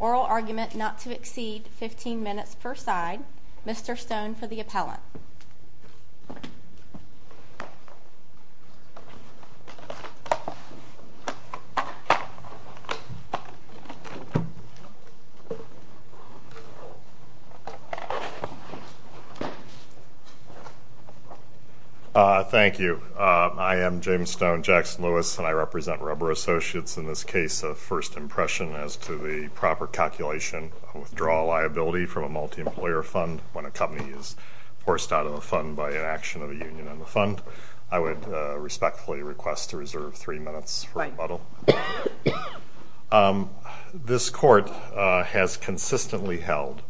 Oral argument not to exceed 15 minutes per side. Mr. Stone for the appellant. Thank you. I am James Stone, Jackson Lewis, and I represent Rubber Associates in this case. A first impression as to the proper calculation of withdrawal liability from a multi-employer fund when a company is forced out of the fund by inaction of a union in the fund. I would respectfully request to reserve three minutes for rebuttal. This court has consistently held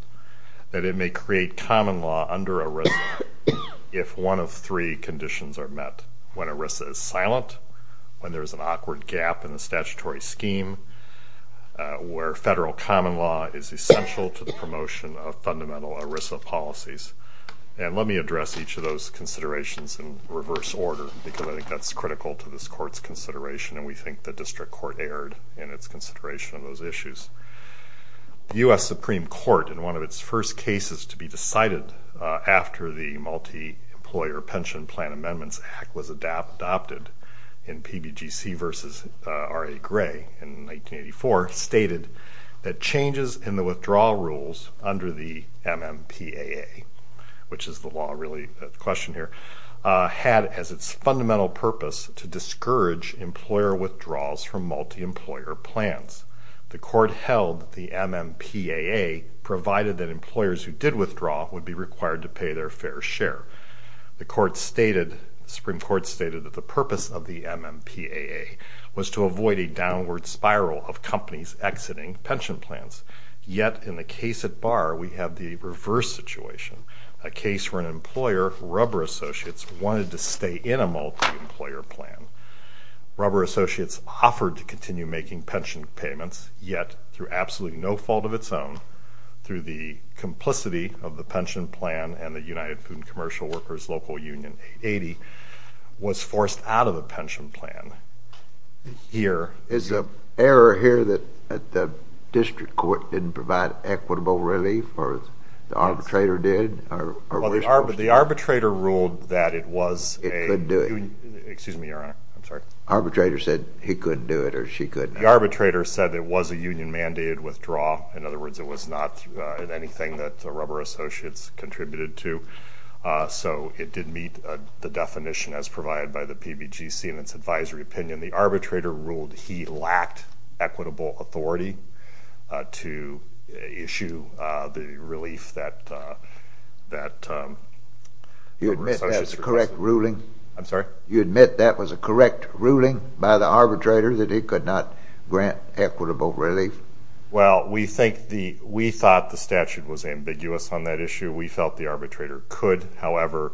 that it may create common law under ERISA if one of three conditions are met. When ERISA is silent, when there is an awkward gap in the statutory scheme, where federal common law is essential to the promotion of fundamental ERISA policies. And let me address each of those considerations in reverse order because I think that is critical to this court's consideration and we think the district court erred in its consideration of those issues. The U.S. Supreme Court in one of its first cases to be decided after the Multi-Employer Pension Plan Amendments Act was adopted in PBGC v. R.A. Gray in 1984 stated that changes in the withdrawal rules under the MMPAA, which is the law really at question here, had as its fundamental purpose to discourage employer withdrawals from multi-employer plans. The court held that the MMPAA provided that employers who did withdraw would be required to pay their fair share. The Supreme Court stated that the purpose of the MMPAA was to avoid a downward spiral of companies exiting pension plans. Yet in the case at Barr we have the reverse situation, a case where an employer, Rubber Associates, wanted to stay in a multi-employer plan. Rubber Associates offered to continue making pension payments yet through absolutely no fault of its own, through the complicity of the pension plan and the United Food and Commercial Workers Local Union 80, was forced out of the pension plan. Here. Is the error here that the district court didn't provide equitable relief or the arbitrator did? Well the arbitrator ruled that it was. It couldn't do it. Excuse me your honor. I'm sorry. Arbitrator said he couldn't do it or she couldn't. The arbitrator said it was a union mandated withdrawal. In other words it was not anything that Rubber Associates contributed to. So it did meet the definition as provided by the PBGC in its advisory opinion. The arbitrator ruled he lacked equitable authority to issue the relief that Rubber Associates. You admit that was a correct ruling? I'm sorry. You admit that was a correct ruling by the arbitrator that he could not grant equitable relief? Well we think the, we thought the statute was ambiguous on that issue. We felt the arbitrator could. However,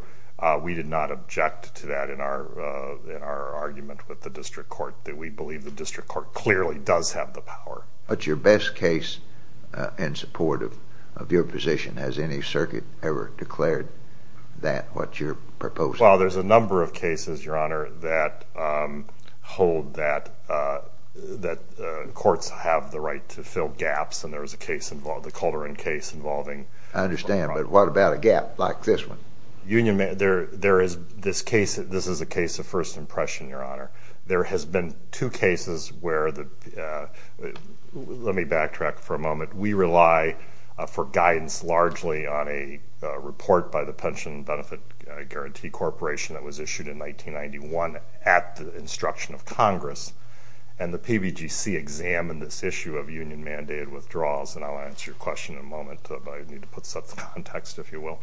we did not object to that in our argument with the district court, that we believe the district court clearly does have the power. But your best case in support of your position, has any circuit ever declared that, what you're proposing? Well there's a number of cases your honor that hold that courts have the right to fill gaps and there was a case, the Calderon case involving. I understand but what about a gap like this one? Union, there is this case, this is a case of first impression your honor. There is a case for guidance largely on a report by the Pension Benefit Guarantee Corporation that was issued in 1991 at the instruction of Congress and the PBGC examined this issue of union mandated withdrawals and I'll answer your question in a moment but I need to put some context if you will.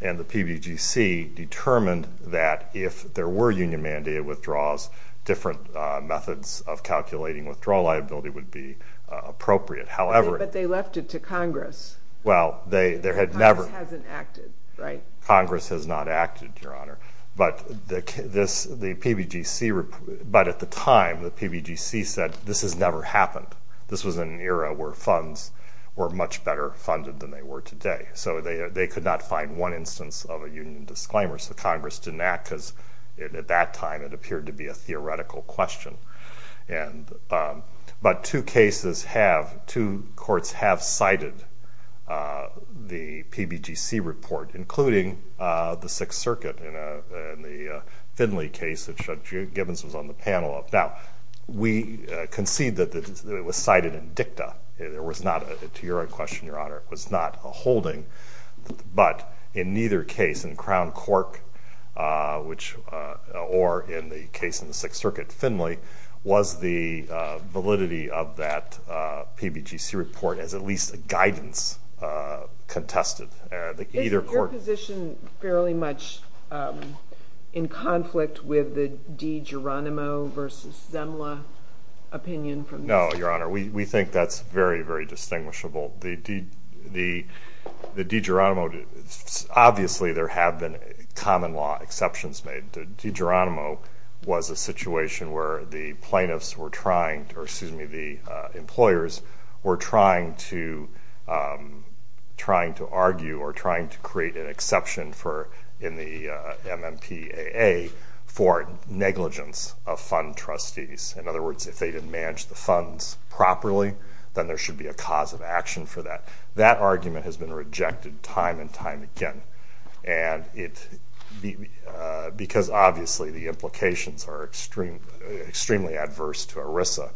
And the PBGC determined that if there were union mandated withdrawals different methods of calculating withdrawal liability would be appropriate. However. But they left it to Congress. Well they had never. Congress hasn't acted right? Congress has not acted your honor. But the PBGC, but at the time the PBGC said this has never happened. This was an era where funds were much better funded than they were today. So they could not find one instance of a union disclaimer so Congress didn't act because at that time it appeared to be a theoretical question. But two cases have, two courts have cited the PBGC report including the Sixth Circuit and the Finley case that Judge Gibbons was on the panel of. Now we concede that it was cited in dicta. There was not, to your question your honor, it was not a holding. But in neither case, in Crown Cork which, or in other cases in the case in the Sixth Circuit, Finley, was the validity of that PBGC report as at least a guidance contested. Is your position fairly much in conflict with the De Geronimo versus Zemla opinion? No your honor. We think that's very very distinguishable. The De Geronimo, obviously there have been common law exceptions made. De Geronimo was a situation where the plaintiffs were trying, or excuse me, the employers were trying to argue or trying to create an exception for, in the MMPAA, for negligence of fund trustees. In other words if they didn't manage the funds properly then there should be a cause of action for that. That argument has been rejected time and time again. And it, because obviously the implications are extremely adverse to ERISA.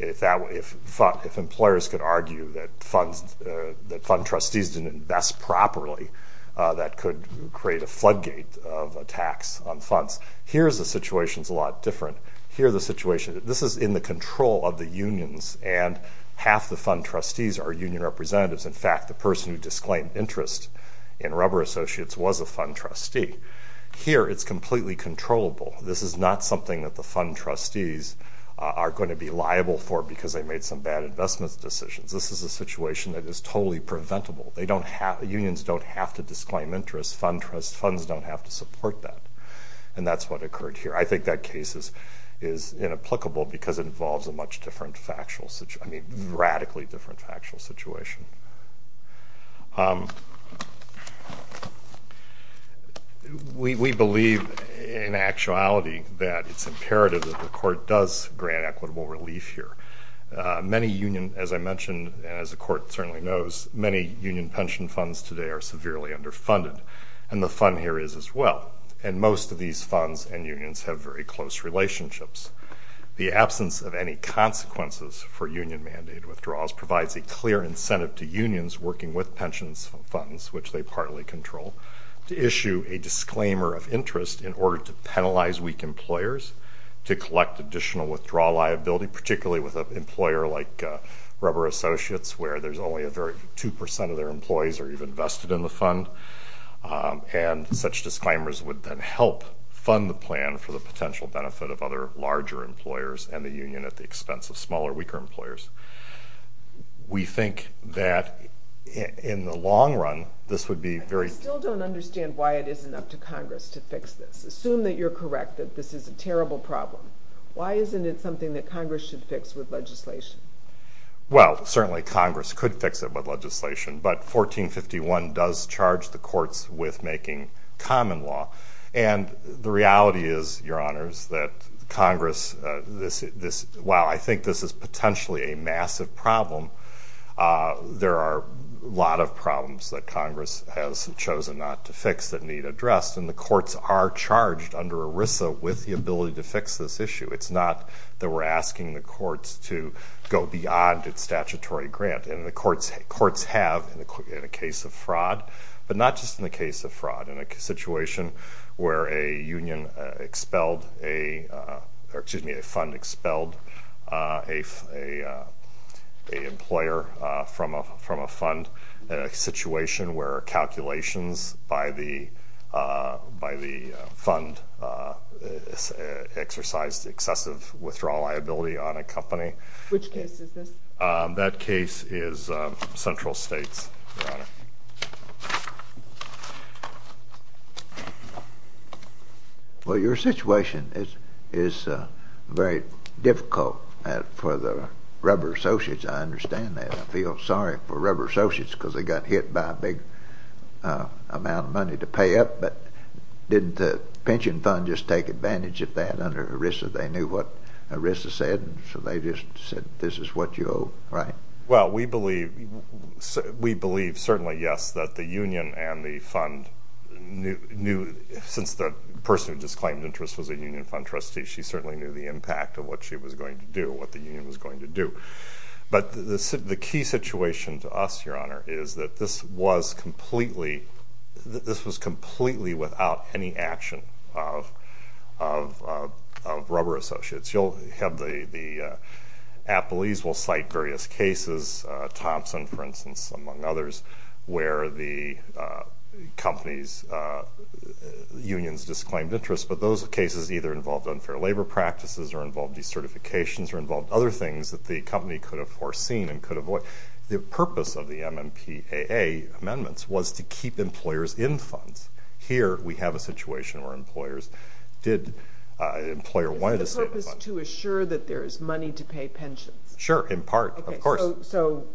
If employers could argue that fund trustees didn't invest properly that could create a floodgate of attacks on funds. Here's the situation is a lot different. Here's the situation, this is in the control of the unions and half the fund trustees are union representatives. In fact the person who disclaimed interest in rubber associates was a fund trustee. Here it's completely controllable. This is not something that the fund trustees are going to be liable for because they made some bad investments decisions. This is a situation that is totally preventable. They don't have, unions don't have to disclaim interest. Funds don't have to support that. And that's what occurred here. I think that case is inapplicable because it involves a much different factual situation, I mean radically different factual situation. We believe in actuality that it's imperative that the court does grant equitable relief here. Many union, as I mentioned and as the court certainly knows, many union pension funds today are severely underfunded. And the fund here is as well. And most of these funds and unions have very close relationships. The absence of any consequences for union mandate withdrawals provides a clear incentive to unions working with pensions funds, which they partly control, to issue a disclaimer of interest in order to penalize weak employers to collect additional withdrawal liability, particularly with an employer like rubber associates where there's only a very 2% of their employees are even vested in the fund. And such disclaimers would then help fund the plan for the potential benefit of other larger employers and the union at the expense of smaller, weaker employers. We think that in the long run, this would be very... I still don't understand why it isn't up to Congress to fix this. Assume that you're correct that this is a terrible problem. Why isn't it something that Congress should fix with legislation? Well, certainly Congress could fix it with legislation, but 1451 does charge the courts with making common law. And the reality is, Your Honors, that Congress... While I think this is potentially a massive problem, there are a lot of problems that Congress has chosen not to fix that need addressed. And the courts are charged under ERISA with the ability to fix this issue. It's not that we're asking the courts to go beyond its statutory grant. And the courts have in a case of fraud, but not just in the case of fraud. In a situation where a union expelled a... Or excuse me, a fund expelled a employer from a fund. In a situation where calculations by the fund exercised excessive withdrawal liability on a company. Which case is this? That case is Central States, Your Honor. Well, your situation is very difficult for the rubber associates. I understand that. I feel sorry for rubber associates because they got hit by a big amount of money to pay up. But didn't the pension fund just take advantage of that under ERISA? They knew what to do. Well, we believe certainly, yes, that the union and the fund knew... Since the person who just claimed interest was a union fund trustee, she certainly knew the impact of what she was going to do, what the union was going to do. But the key situation to us, Your Honor, is that this was completely without any action of rubber associates. You'll have the... Appellees will cite various cases, Thompson, for instance, among others, where the company's unions disclaimed interest. But those cases either involved unfair labor practices or involved decertifications or involved other things that the company could have foreseen and could avoid. The purpose of the MMPAA amendments was to keep employers in funds. Here, we have a situation where the MMPAA is not in the funds. The purpose is to assure that there is money to pay pensions. Sure, in part, of course. So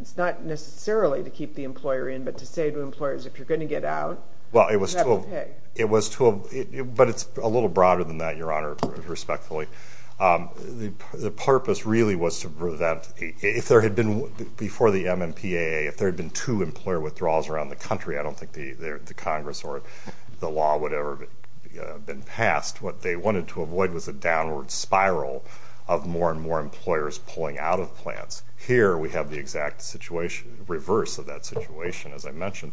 it's not necessarily to keep the employer in, but to say to employers, if you're going to get out, you have to pay. It was to... But it's a little broader than that, Your Honor, respectfully. The purpose really was to prevent... If there had been, before the MMPAA, if there had been two employer withdrawals around the country, I don't think the Congress or the law would have ever been passed. What they wanted to avoid was a downward spiral of more and more employers pulling out of plants. Here, we have the exact reverse of that situation, as I mentioned.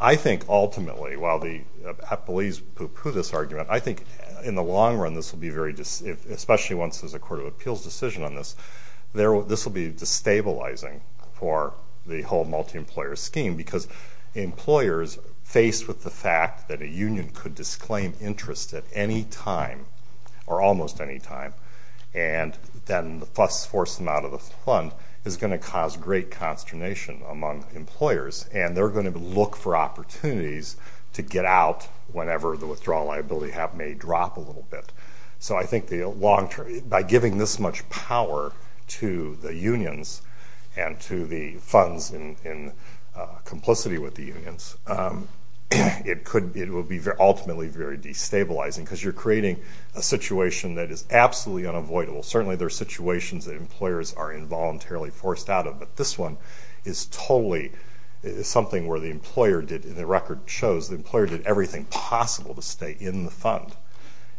I think, ultimately, while the Appellees poo-poo this argument, I think, in the long run, this will be very... Especially once there's a Court of Appeals decision on this, this will be destabilizing for the whole multi-employer scheme because employers, faced with the fact that a union could disclaim interest at any time, or almost any time, and then the fuss forced them out of the fund, is going to cause great consternation among employers, and they're going to look for opportunities to get out whenever the withdrawal liability may drop a little bit. So I think, by giving this much power to the unions and to the funds in complicity with the unions, it will be, ultimately, very destabilizing because you're creating a situation that is absolutely unavoidable. Certainly there are situations that employers are involuntarily forced out of, but this one is totally something where the employer did, and the record shows, the employer did everything possible to stay in the fund,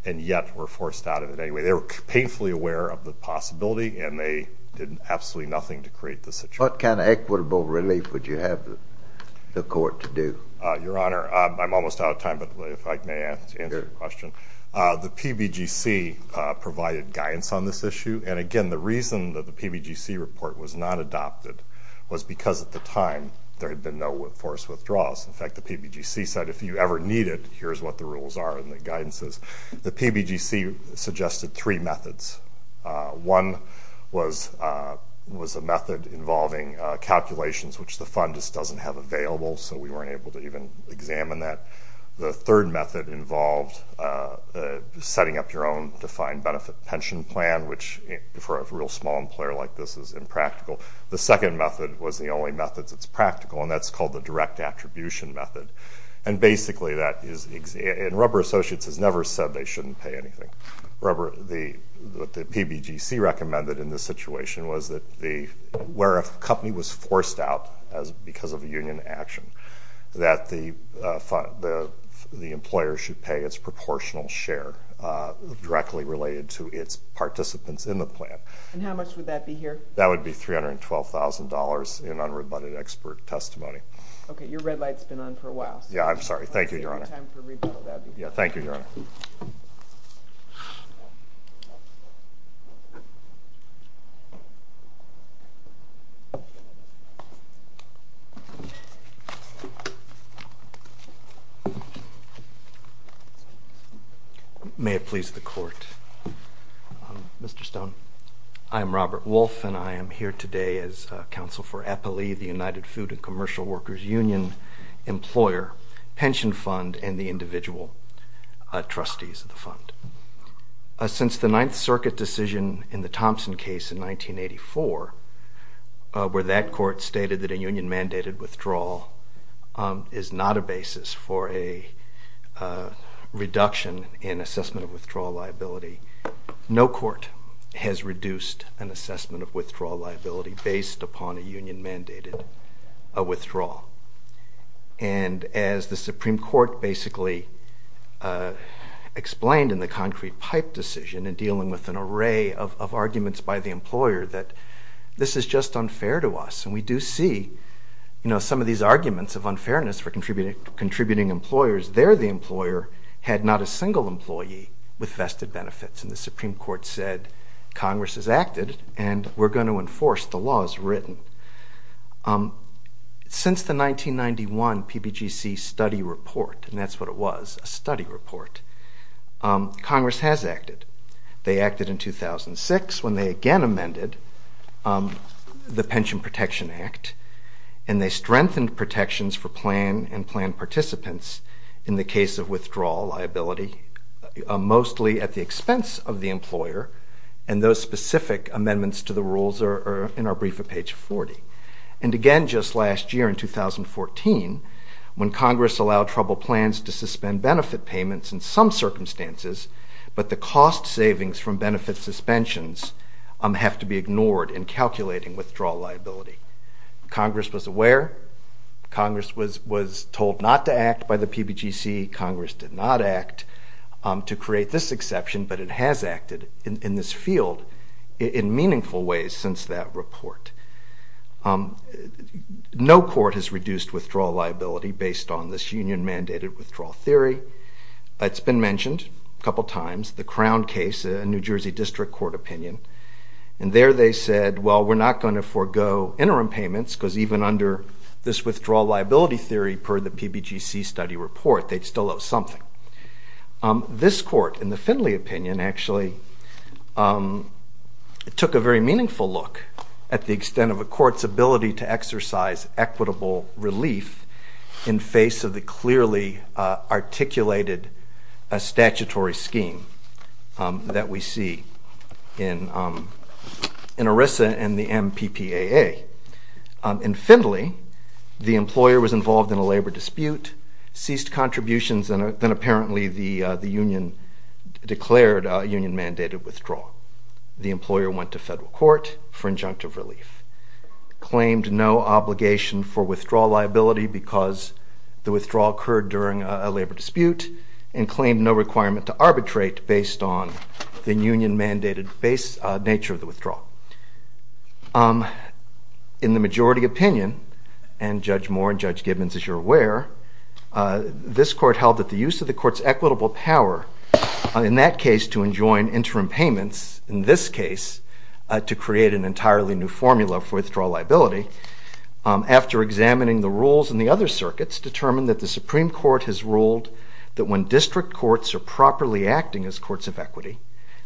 and yet were forced out of it anyway. They were painfully aware of the possibility, and they did absolutely nothing to create the situation. What kind of equitable relief would you have the court to do? Your Honor, I'm almost out of time, but if I may answer your question. The PBGC provided guidance on this issue, and again, the reason that the PBGC report was not adopted was because, at the time, there had been no forced withdrawals. In fact, the PBGC said, if you ever need it, here's what the rules are and the guidances. The PBGC suggested three methods. One was a method involving calculations, which the fund just doesn't have available, so we weren't able to even examine that. The third method involved setting up your own defined benefit pension plan, which, for a real small employer like this, is impractical. The second method was the only method that's practical, and that's called the direct attribution method. And basically, that is – and Rubber Associates has never said they shouldn't pay anything. The – what the PBGC recommended in this situation was that the – where a company was forced out because of a union action, that the employer should pay its proportional share directly related to its participants in the plan. And how much would that be here? That would be $312,000 in unrebutted expert testimony. Okay. Your red light's been on for a while. Yeah. I'm sorry. Thank you, Your Honor. It's time for rebuttal. That would be good. Yeah. Thank you, Your Honor. May it please the Court. Mr. Stone. I'm a former labor workers union employer, pension fund, and the individual trustees of the fund. Since the Ninth Circuit decision in the Thompson case in 1984, where that court stated that a union-mandated withdrawal is not a basis for a reduction in assessment of withdrawal liability, no court has reduced an assessment of withdrawal liability based upon a union-mandated withdrawal. And as the Supreme Court basically explained in the Concrete Pipe decision in dealing with an array of arguments by the employer that this is just unfair to us, and we do see some of these arguments of unfairness for contributing employers, there the employer had not a single employee with vested benefits, and the Supreme Court said Congress has acted and we're going to enforce the laws written. Since the 1991 PBGC study report, and that's what it was, a study report, Congress has acted. They acted in 2006 when they again amended the Pension Protection Act, and they strengthened protections for plan and planned participants in the case of withdrawal liability, mostly at the expense of the employer, and those specific amendments to the rules are in our brief at page 40. And again, just last year in 2014, when Congress allowed trouble plans to suspend benefit payments in some circumstances, but the cost savings from benefit suspensions have to be ignored in calculating withdrawal liability. Congress was aware. Congress was told not to act by the PBGC. Congress did not act to create this exception, but it has acted in this field in meaningful ways since that report. No court has reduced withdrawal liability based on this union-mandated withdrawal theory. It's been mentioned a couple times, the Crown case, a New Jersey District Court opinion, and there they said, well, we're not going to forego interim payments because even under this withdrawal liability theory per the PBGC study report, they'd still owe something. This court, in the Findley opinion, actually took a very meaningful look at the extent of a court's ability to exercise equitable relief in face of the clearly articulated statutory scheme that we see in ERISA and the MPPAA. In Findley, the employer was involved in a labor dispute, ceased contributions, and then apparently the union declared a union-mandated withdrawal. The employer went to federal court for injunctive relief, claimed no obligation for withdrawal liability because the withdrawal occurred during a labor dispute, and claimed no requirement to arbitrate based on the union-mandated nature of the withdrawal. In the majority opinion, and Judge Moore and Judge Gibbons, as you're aware, this court held that the use of the court's equitable power, in that case to enjoin interim payments, in this case to create an entirely new formula for withdrawal liability, after examining the rules in the other circuits, determined that the Supreme Court has ruled that when district courts are properly acting as courts of equity,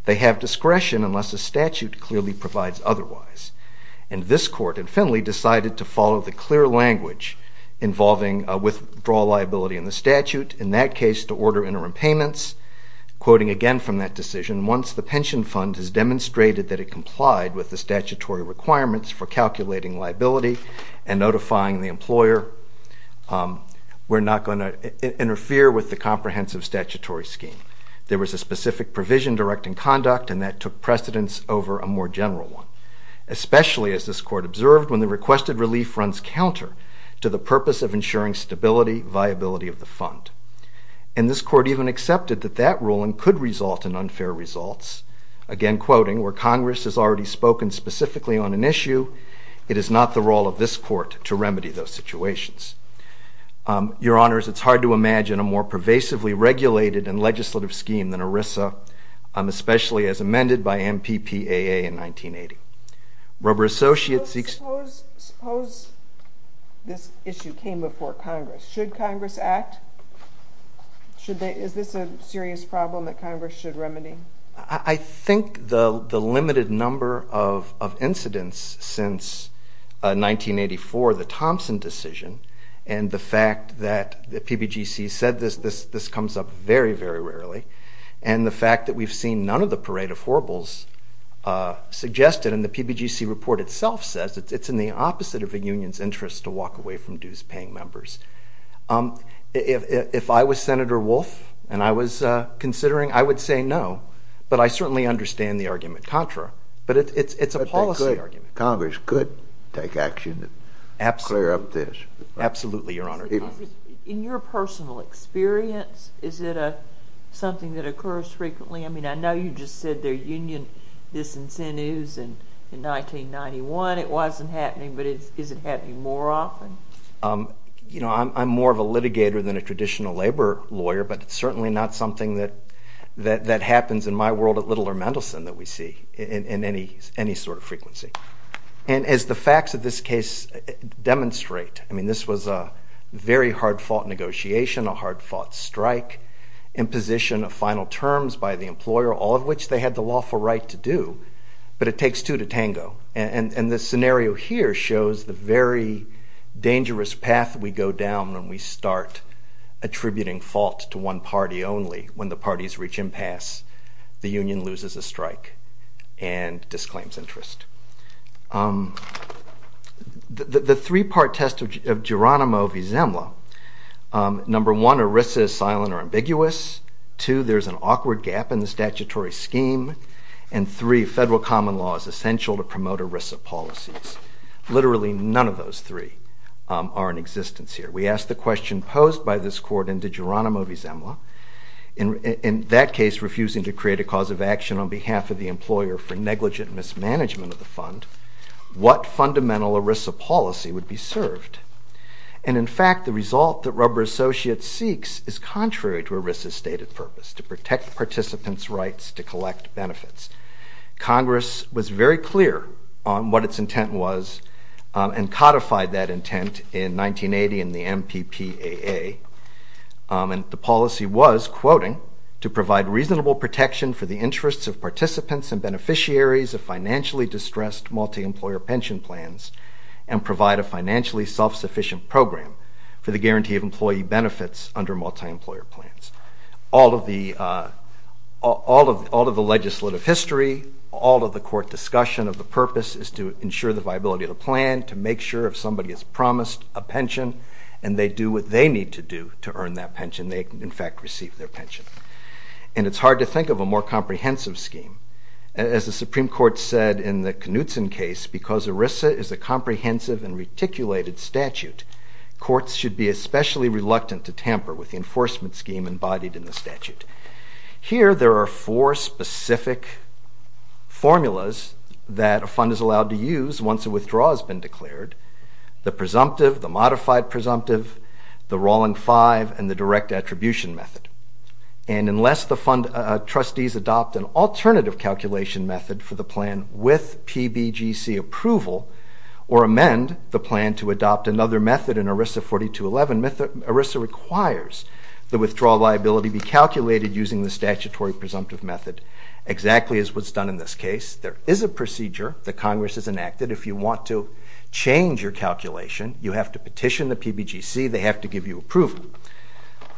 they have discretion unless a statute clearly provides otherwise. And this court in Findley decided to follow the clear language involving withdrawal liability in the statute, in that case to order interim payments, quoting again from that decision, once the pension fund has demonstrated that it complied with the statutory requirements for calculating liability and notifying the employer, we're not going to interfere with the comprehensive statutory scheme. There was a specific provision directing conduct, and that took precedence over a more general one, especially, as this court observed, when the requested relief runs counter to the purpose of ensuring stability, viability of the fund. And this court even accepted that that ruling could result in unfair results, again quoting, where Congress has already spoken specifically on an issue, it is not the role of this court to remedy those situations. Your Honors, it's hard to imagine a more pervasively regulated and legislative scheme than ERISA, especially as amended by MPPAA in 1980. Robert Associates... Suppose this issue came before Congress. Should Congress act? Is this a serious problem that Congress should remedy? I think the limited number of incidents since 1984, the Thompson decision, and the fact that the PBGC said this, this comes up very, very rarely. And the fact that we've seen none of the parade of horribles suggested in the PBGC report itself says it's in the opposite of the union's interest to walk away from dues-paying members. If I was Senator Wolf and I was considering, I would say no, but I certainly understand the argument contra, but it's a policy argument. Congress could take action to clear up this. Absolutely, Your Honor. In your personal experience, is it something that occurs frequently? I mean, I know you just said there are union disincentives, and in 1991 it wasn't happening, but is it happening more often? You know, I'm more of a litigator than a traditional labor lawyer, but it's certainly not something that happens in my world at Little or Mendelsohn that we see in any sort of frequency. And as the facts of this case demonstrate, I mean, this was a very hard-fought negotiation, a hard-fought strike, imposition of final terms by the employer, all of which they had the lawful right to do, but it takes two to tango. And this scenario here shows the very dangerous path we go down when we start attributing fault to one party only. When the parties reach impasse, the union loses a strike and disclaims interest. The three-part test of Geronimo v. Zemla, number one, ERISA is silent or ambiguous, two, there's an awkward gap in the statutory scheme, and three, federal common law is essential to promote ERISA policies. Literally none of those three are in existence here. We ask the question posed by this court in Geronimo v. Zemla. In that case, refusing to create a cause of action on behalf of the employer for negligent mismanagement of the fund, what fundamental ERISA policy would be served? And in fact, the result that rubber associates seeks is contrary to ERISA's stated purpose, to protect participants' rights to collect benefits. Congress was very clear on what its intent was and codified that intent in 1980 in the MPPAA. And the policy was, quoting, to provide reasonable protection for the interests of participants and beneficiaries of financially distressed multi-employer pension plans and provide a financially self-sufficient program for the guarantee of employee benefits under multi-employer plans. All of the legislative history, all of the court discussion of the purpose is to ensure the viability of the plan, to make sure if somebody is promised a pension and they do what they need to do to earn that pension, they can in fact receive their pension. And it's hard to think of a more comprehensive scheme. As the Supreme Court said in the Knutson case, because ERISA is a comprehensive and reticulated statute, courts should be especially reluctant to tamper with the enforcement scheme embodied in the statute. Here there are four specific formulas that a fund is allowed to use once a withdrawal has been declared, the presumptive, the modified presumptive, the rolling five, and the direct attribution method. And unless the fund trustees adopt an alternative calculation method for the plan with PBGC approval or amend the plan to adopt another method in ERISA 4211, ERISA requires the withdrawal liability be calculated using the statutory presumptive method, exactly as what's done in this case. There is a procedure that Congress has enacted. If you want to change your calculation, you have to petition the PBGC. They have to give you approval.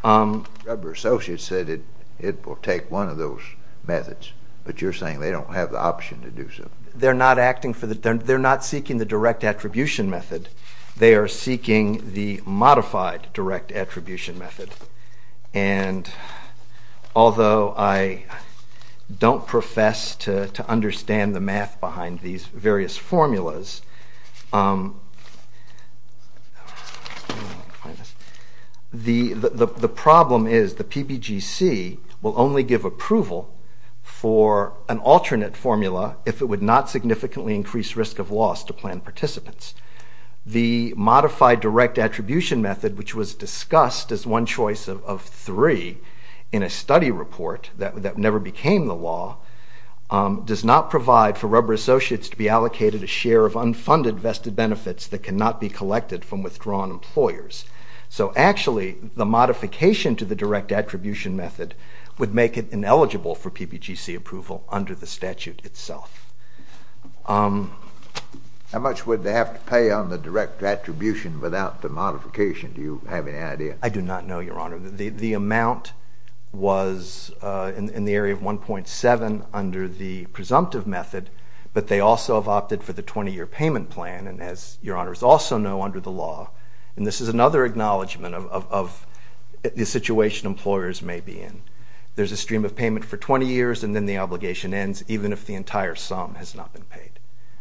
Governor Associates said it will take one of those methods, but you're saying they don't have the option to do so. They're not seeking the direct attribution method. They are seeking the modified direct attribution method. And although I don't profess to understand the math behind these various formulas, the problem is the PBGC will only give approval for an alternate formula if it would not significantly increase risk of loss to plan participants. The modified direct attribution method, which was discussed as one choice of three in a study report that never became the law, does not provide for rubber associates to be allocated a share of unfunded vested benefits that cannot be collected from withdrawn employers. So actually, the modification to the direct attribution method would make it How much would they have to pay on the direct attribution without the modification? Do you have any idea? I do not know, Your Honor. The amount was in the area of 1.7 under the presumptive method, but they also have opted for the 20-year payment plan, and as Your Honors also know under the law, and this is another acknowledgment of the situation employers may be in. There's a stream of payment for 20 years, and then the obligation ends, even if the entire sum has not been paid.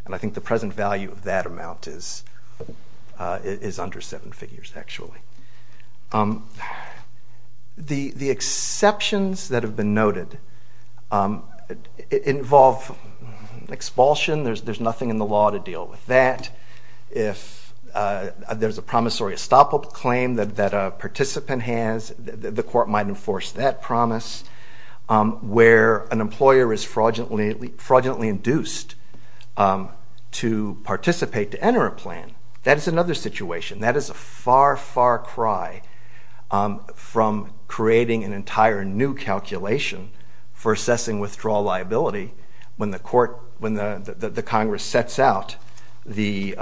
And I think the present value of that amount is under seven figures, actually. The exceptions that have been noted involve expulsion. There's nothing in the law to deal with that. If there's a promissory stop-up claim that a participant has, the court might enforce that promise, where an employer is fraudulently induced to participate to enter a plan. That is another situation. That is a far, far cry from creating an entire new calculation for assessing withdrawal liability when the Congress sets out the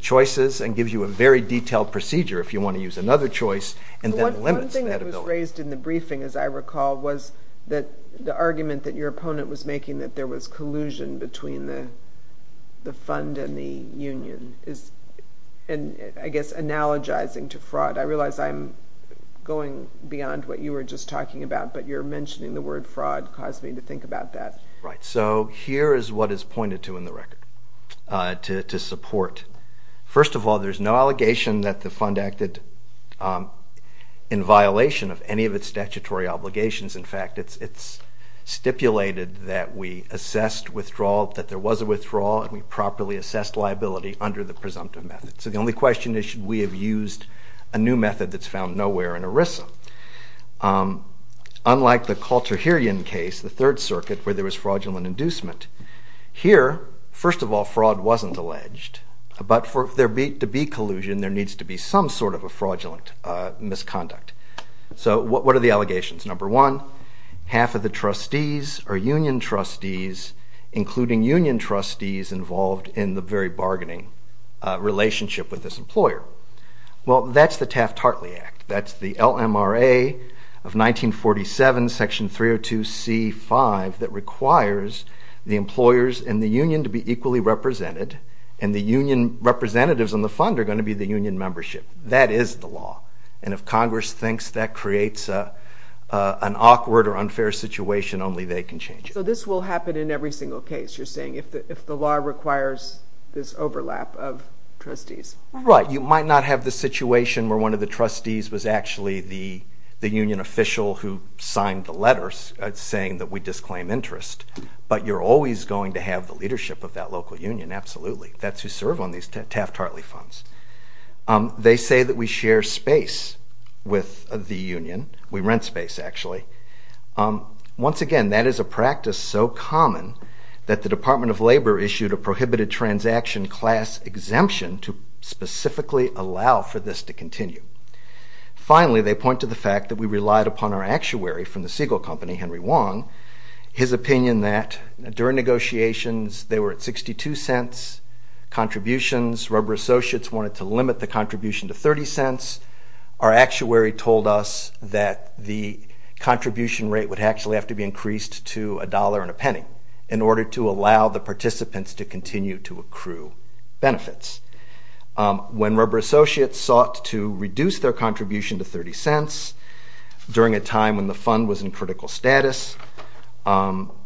choices and gives you a very detailed procedure if you want to use another choice and then limits that ability. One thing that was raised in the briefing, as I recall, was that the argument that your opponent was making that there was collusion between the fund and the union is, I guess, analogizing to fraud. I realize I'm going beyond what you were just talking about, but you're mentioning the word fraud caused me to think about that. Right. So here is what is pointed to in the record to support. First of all, there's no allegation that the fund acted in violation of any of its statutory obligations. In fact, it's stipulated that we assessed withdrawal, that there was a withdrawal, and we properly assessed liability under the presumptive method. So the only question is, should we have used a new method that's found nowhere in ERISA? Unlike the Kalterherian case, the Third Circuit, where there was fraudulent inducement, here, first of all, fraud wasn't alleged. But for there to be collusion, there needs to be some sort of a fraudulent misconduct. So what are the allegations? Number one, half of the trustees are union trustees, including union trustees involved in the very bargaining relationship with this employer. Well, that's the Taft-Hartley Act. That's the LMRA of 1947, Section 302c.5, that requires the employers and the union to be equally represented, and the union representatives in the fund are going to be the union membership. That is the law. And if Congress thinks that creates an awkward or unfair situation, only they can change it. So this will happen in every single case, you're saying, if the law requires this overlap of trustees? Right. You might not have the situation where one of the trustees was actually the union official who signed the letters saying that we disclaim interest, but you're always going to have the leadership of that local union. Absolutely. That's who serve on these Taft-Hartley funds. They say that we share space with the union. We rent space, actually. Once again, that is a practice so common that the Department of Labor issued a prohibited transaction class exemption to specifically allow for this to continue. Finally, they point to the fact that we relied upon our actuary from the Siegel Company, Henry Wong, his opinion that during negotiations they were at $0.62 contributions. Rubber Associates wanted to limit the contribution to $0.30. Our actuary told us that the contribution rate would actually have to be increased to $1.00 and a penny in order to allow the participants to continue to accrue benefits. When Rubber Associates sought to reduce their contribution to $0.30 during a time when the fund was in critical status, the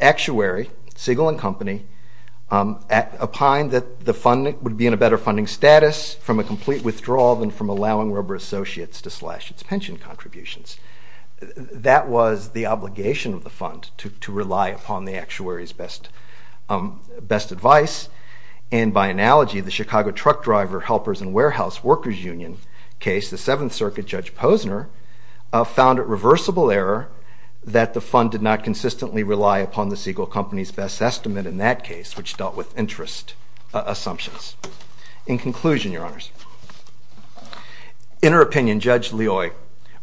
actuary, Siegel and Company, opined that the fund would be in a better funding status from a complete withdrawal than from allowing Rubber Associates to slash its pension contributions. That was the obligation of the fund, to rely upon the actuary's best advice, and by analogy, the Chicago Truck Driver, Helpers, and Warehouse Workers Union case, the Seventh Circuit Judge Posner, found it reversible error that the fund did not consistently rely upon the Siegel Company's best estimate in that case, which dealt with interest assumptions. In conclusion, Your Honors, in her opinion, Judge Loy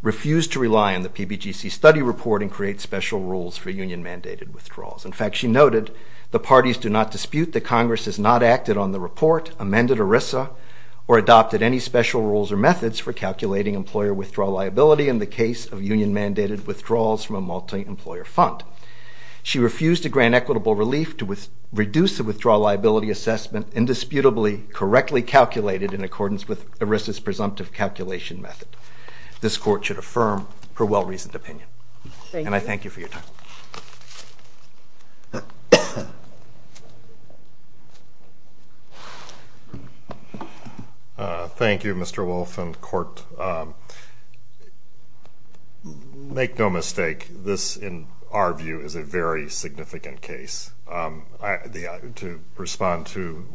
refused to rely on the PBGC study report and create special rules for union-mandated withdrawals. In fact, she noted, the parties do not dispute that Congress has not acted on the report, amended ERISA, or adopted any special rules or methods for calculating employer withdrawal liability in the case of union-mandated withdrawals from a multi-employer fund. She refused to grant equitable relief to reduce the withdrawal liability assessment indisputably correctly calculated in accordance with ERISA's presumptive calculation method. This Court should affirm her well-reasoned opinion. And I thank you for your time. Thank you, Mr. Wolff, and Court. Make no mistake, this, in our view, is a very significant case. To respond to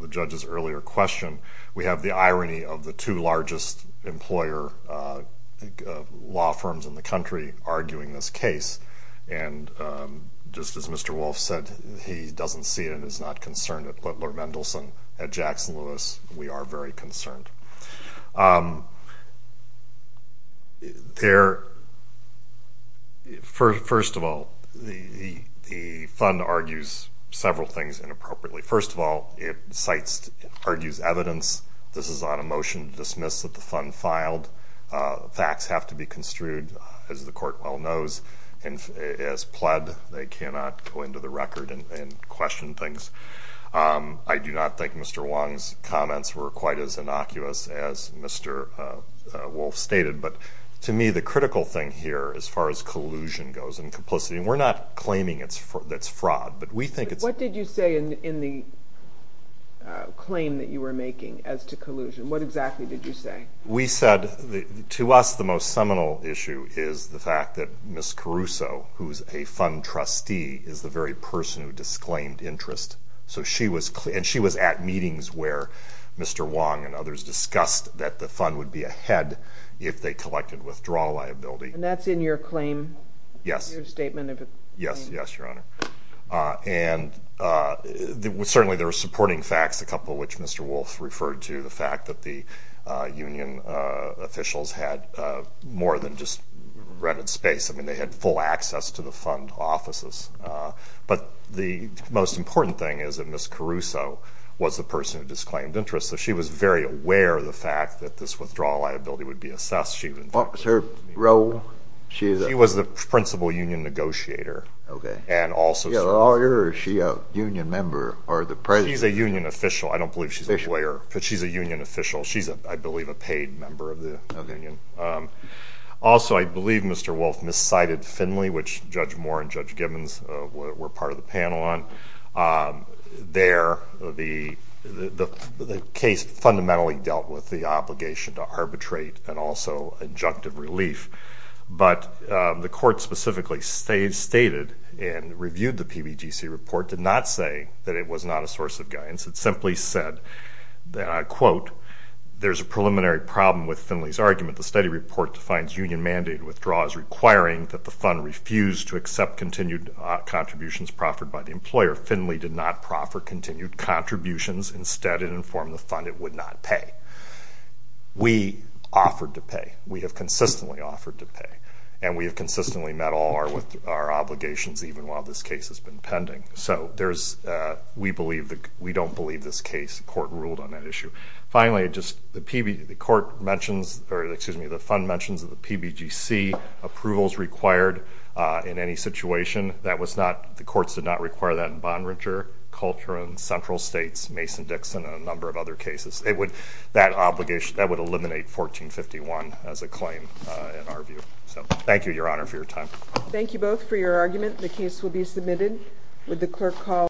the judge's earlier question, we have the irony of the two largest employer law firms in the country arguing this case, and just as Mr. Wolff said, he doesn't see it and is not concerned at Littler-Mendelson, at Jackson-Lewis. We are very concerned. First of all, the fund argues several things inappropriately. First of all, it argues evidence. This is on a motion to dismiss that the fund filed. Facts have to be construed, as the Court well knows. As pled, they cannot go into the record and question things. I do not think Mr. Wong's comments were quite as innocuous as Mr. Wolff stated. But to me, the critical thing here, as far as collusion goes and complicity, and we're not claiming it's fraud. What did you say in the claim that you were making as to collusion? What exactly did you say? We said, to us, the most seminal issue is the fact that Ms. Caruso, who is a fund trustee, is the very person who disclaimed interest. And she was at meetings where Mr. Wong and others discussed that the fund would be ahead if they collected withdrawal liability. And that's in your claim, your statement? Yes, yes, Your Honor. And certainly there are supporting facts, a couple of which Mr. Wolff referred to, the fact that the union officials had more than just rented space. I mean, they had full access to the fund offices. But the most important thing is that Ms. Caruso was the person who disclaimed interest. So she was very aware of the fact that this withdrawal liability would be assessed. What was her role? She was the principal union negotiator. Okay. And also a lawyer. Is she a union member or the president? She's a union official. I don't believe she's a lawyer. She's a union official. She's, I believe, a paid member of the union. Also, I believe Mr. Wolff miscited Finley, which Judge Moore and Judge Gibbons were part of the panel on. There, the case fundamentally dealt with the obligation to arbitrate and also adjunctive relief. But the court specifically stated and reviewed the PBGC report, did not say that it was not a source of guidance. It simply said that, I quote, there's a preliminary problem with Finley's argument. The study report defines union mandate withdrawal as requiring that the fund refuse to accept continued contributions proffered by the employer. Finley did not proffer continued contributions. Instead, it informed the fund it would not pay. We offered to pay. We have consistently offered to pay. And we have consistently met all our obligations, even while this case has been pending. So we don't believe this case. The court ruled on that issue. Finally, the fund mentions that the PBGC approval is required in any situation. The courts did not require that in Bonringer, Coltrane, Central States, Mason-Dixon, and a number of other cases. That would eliminate 1451 as a claim in our view. So thank you, Your Honor, for your time. Thank you both for your argument. The case will be submitted.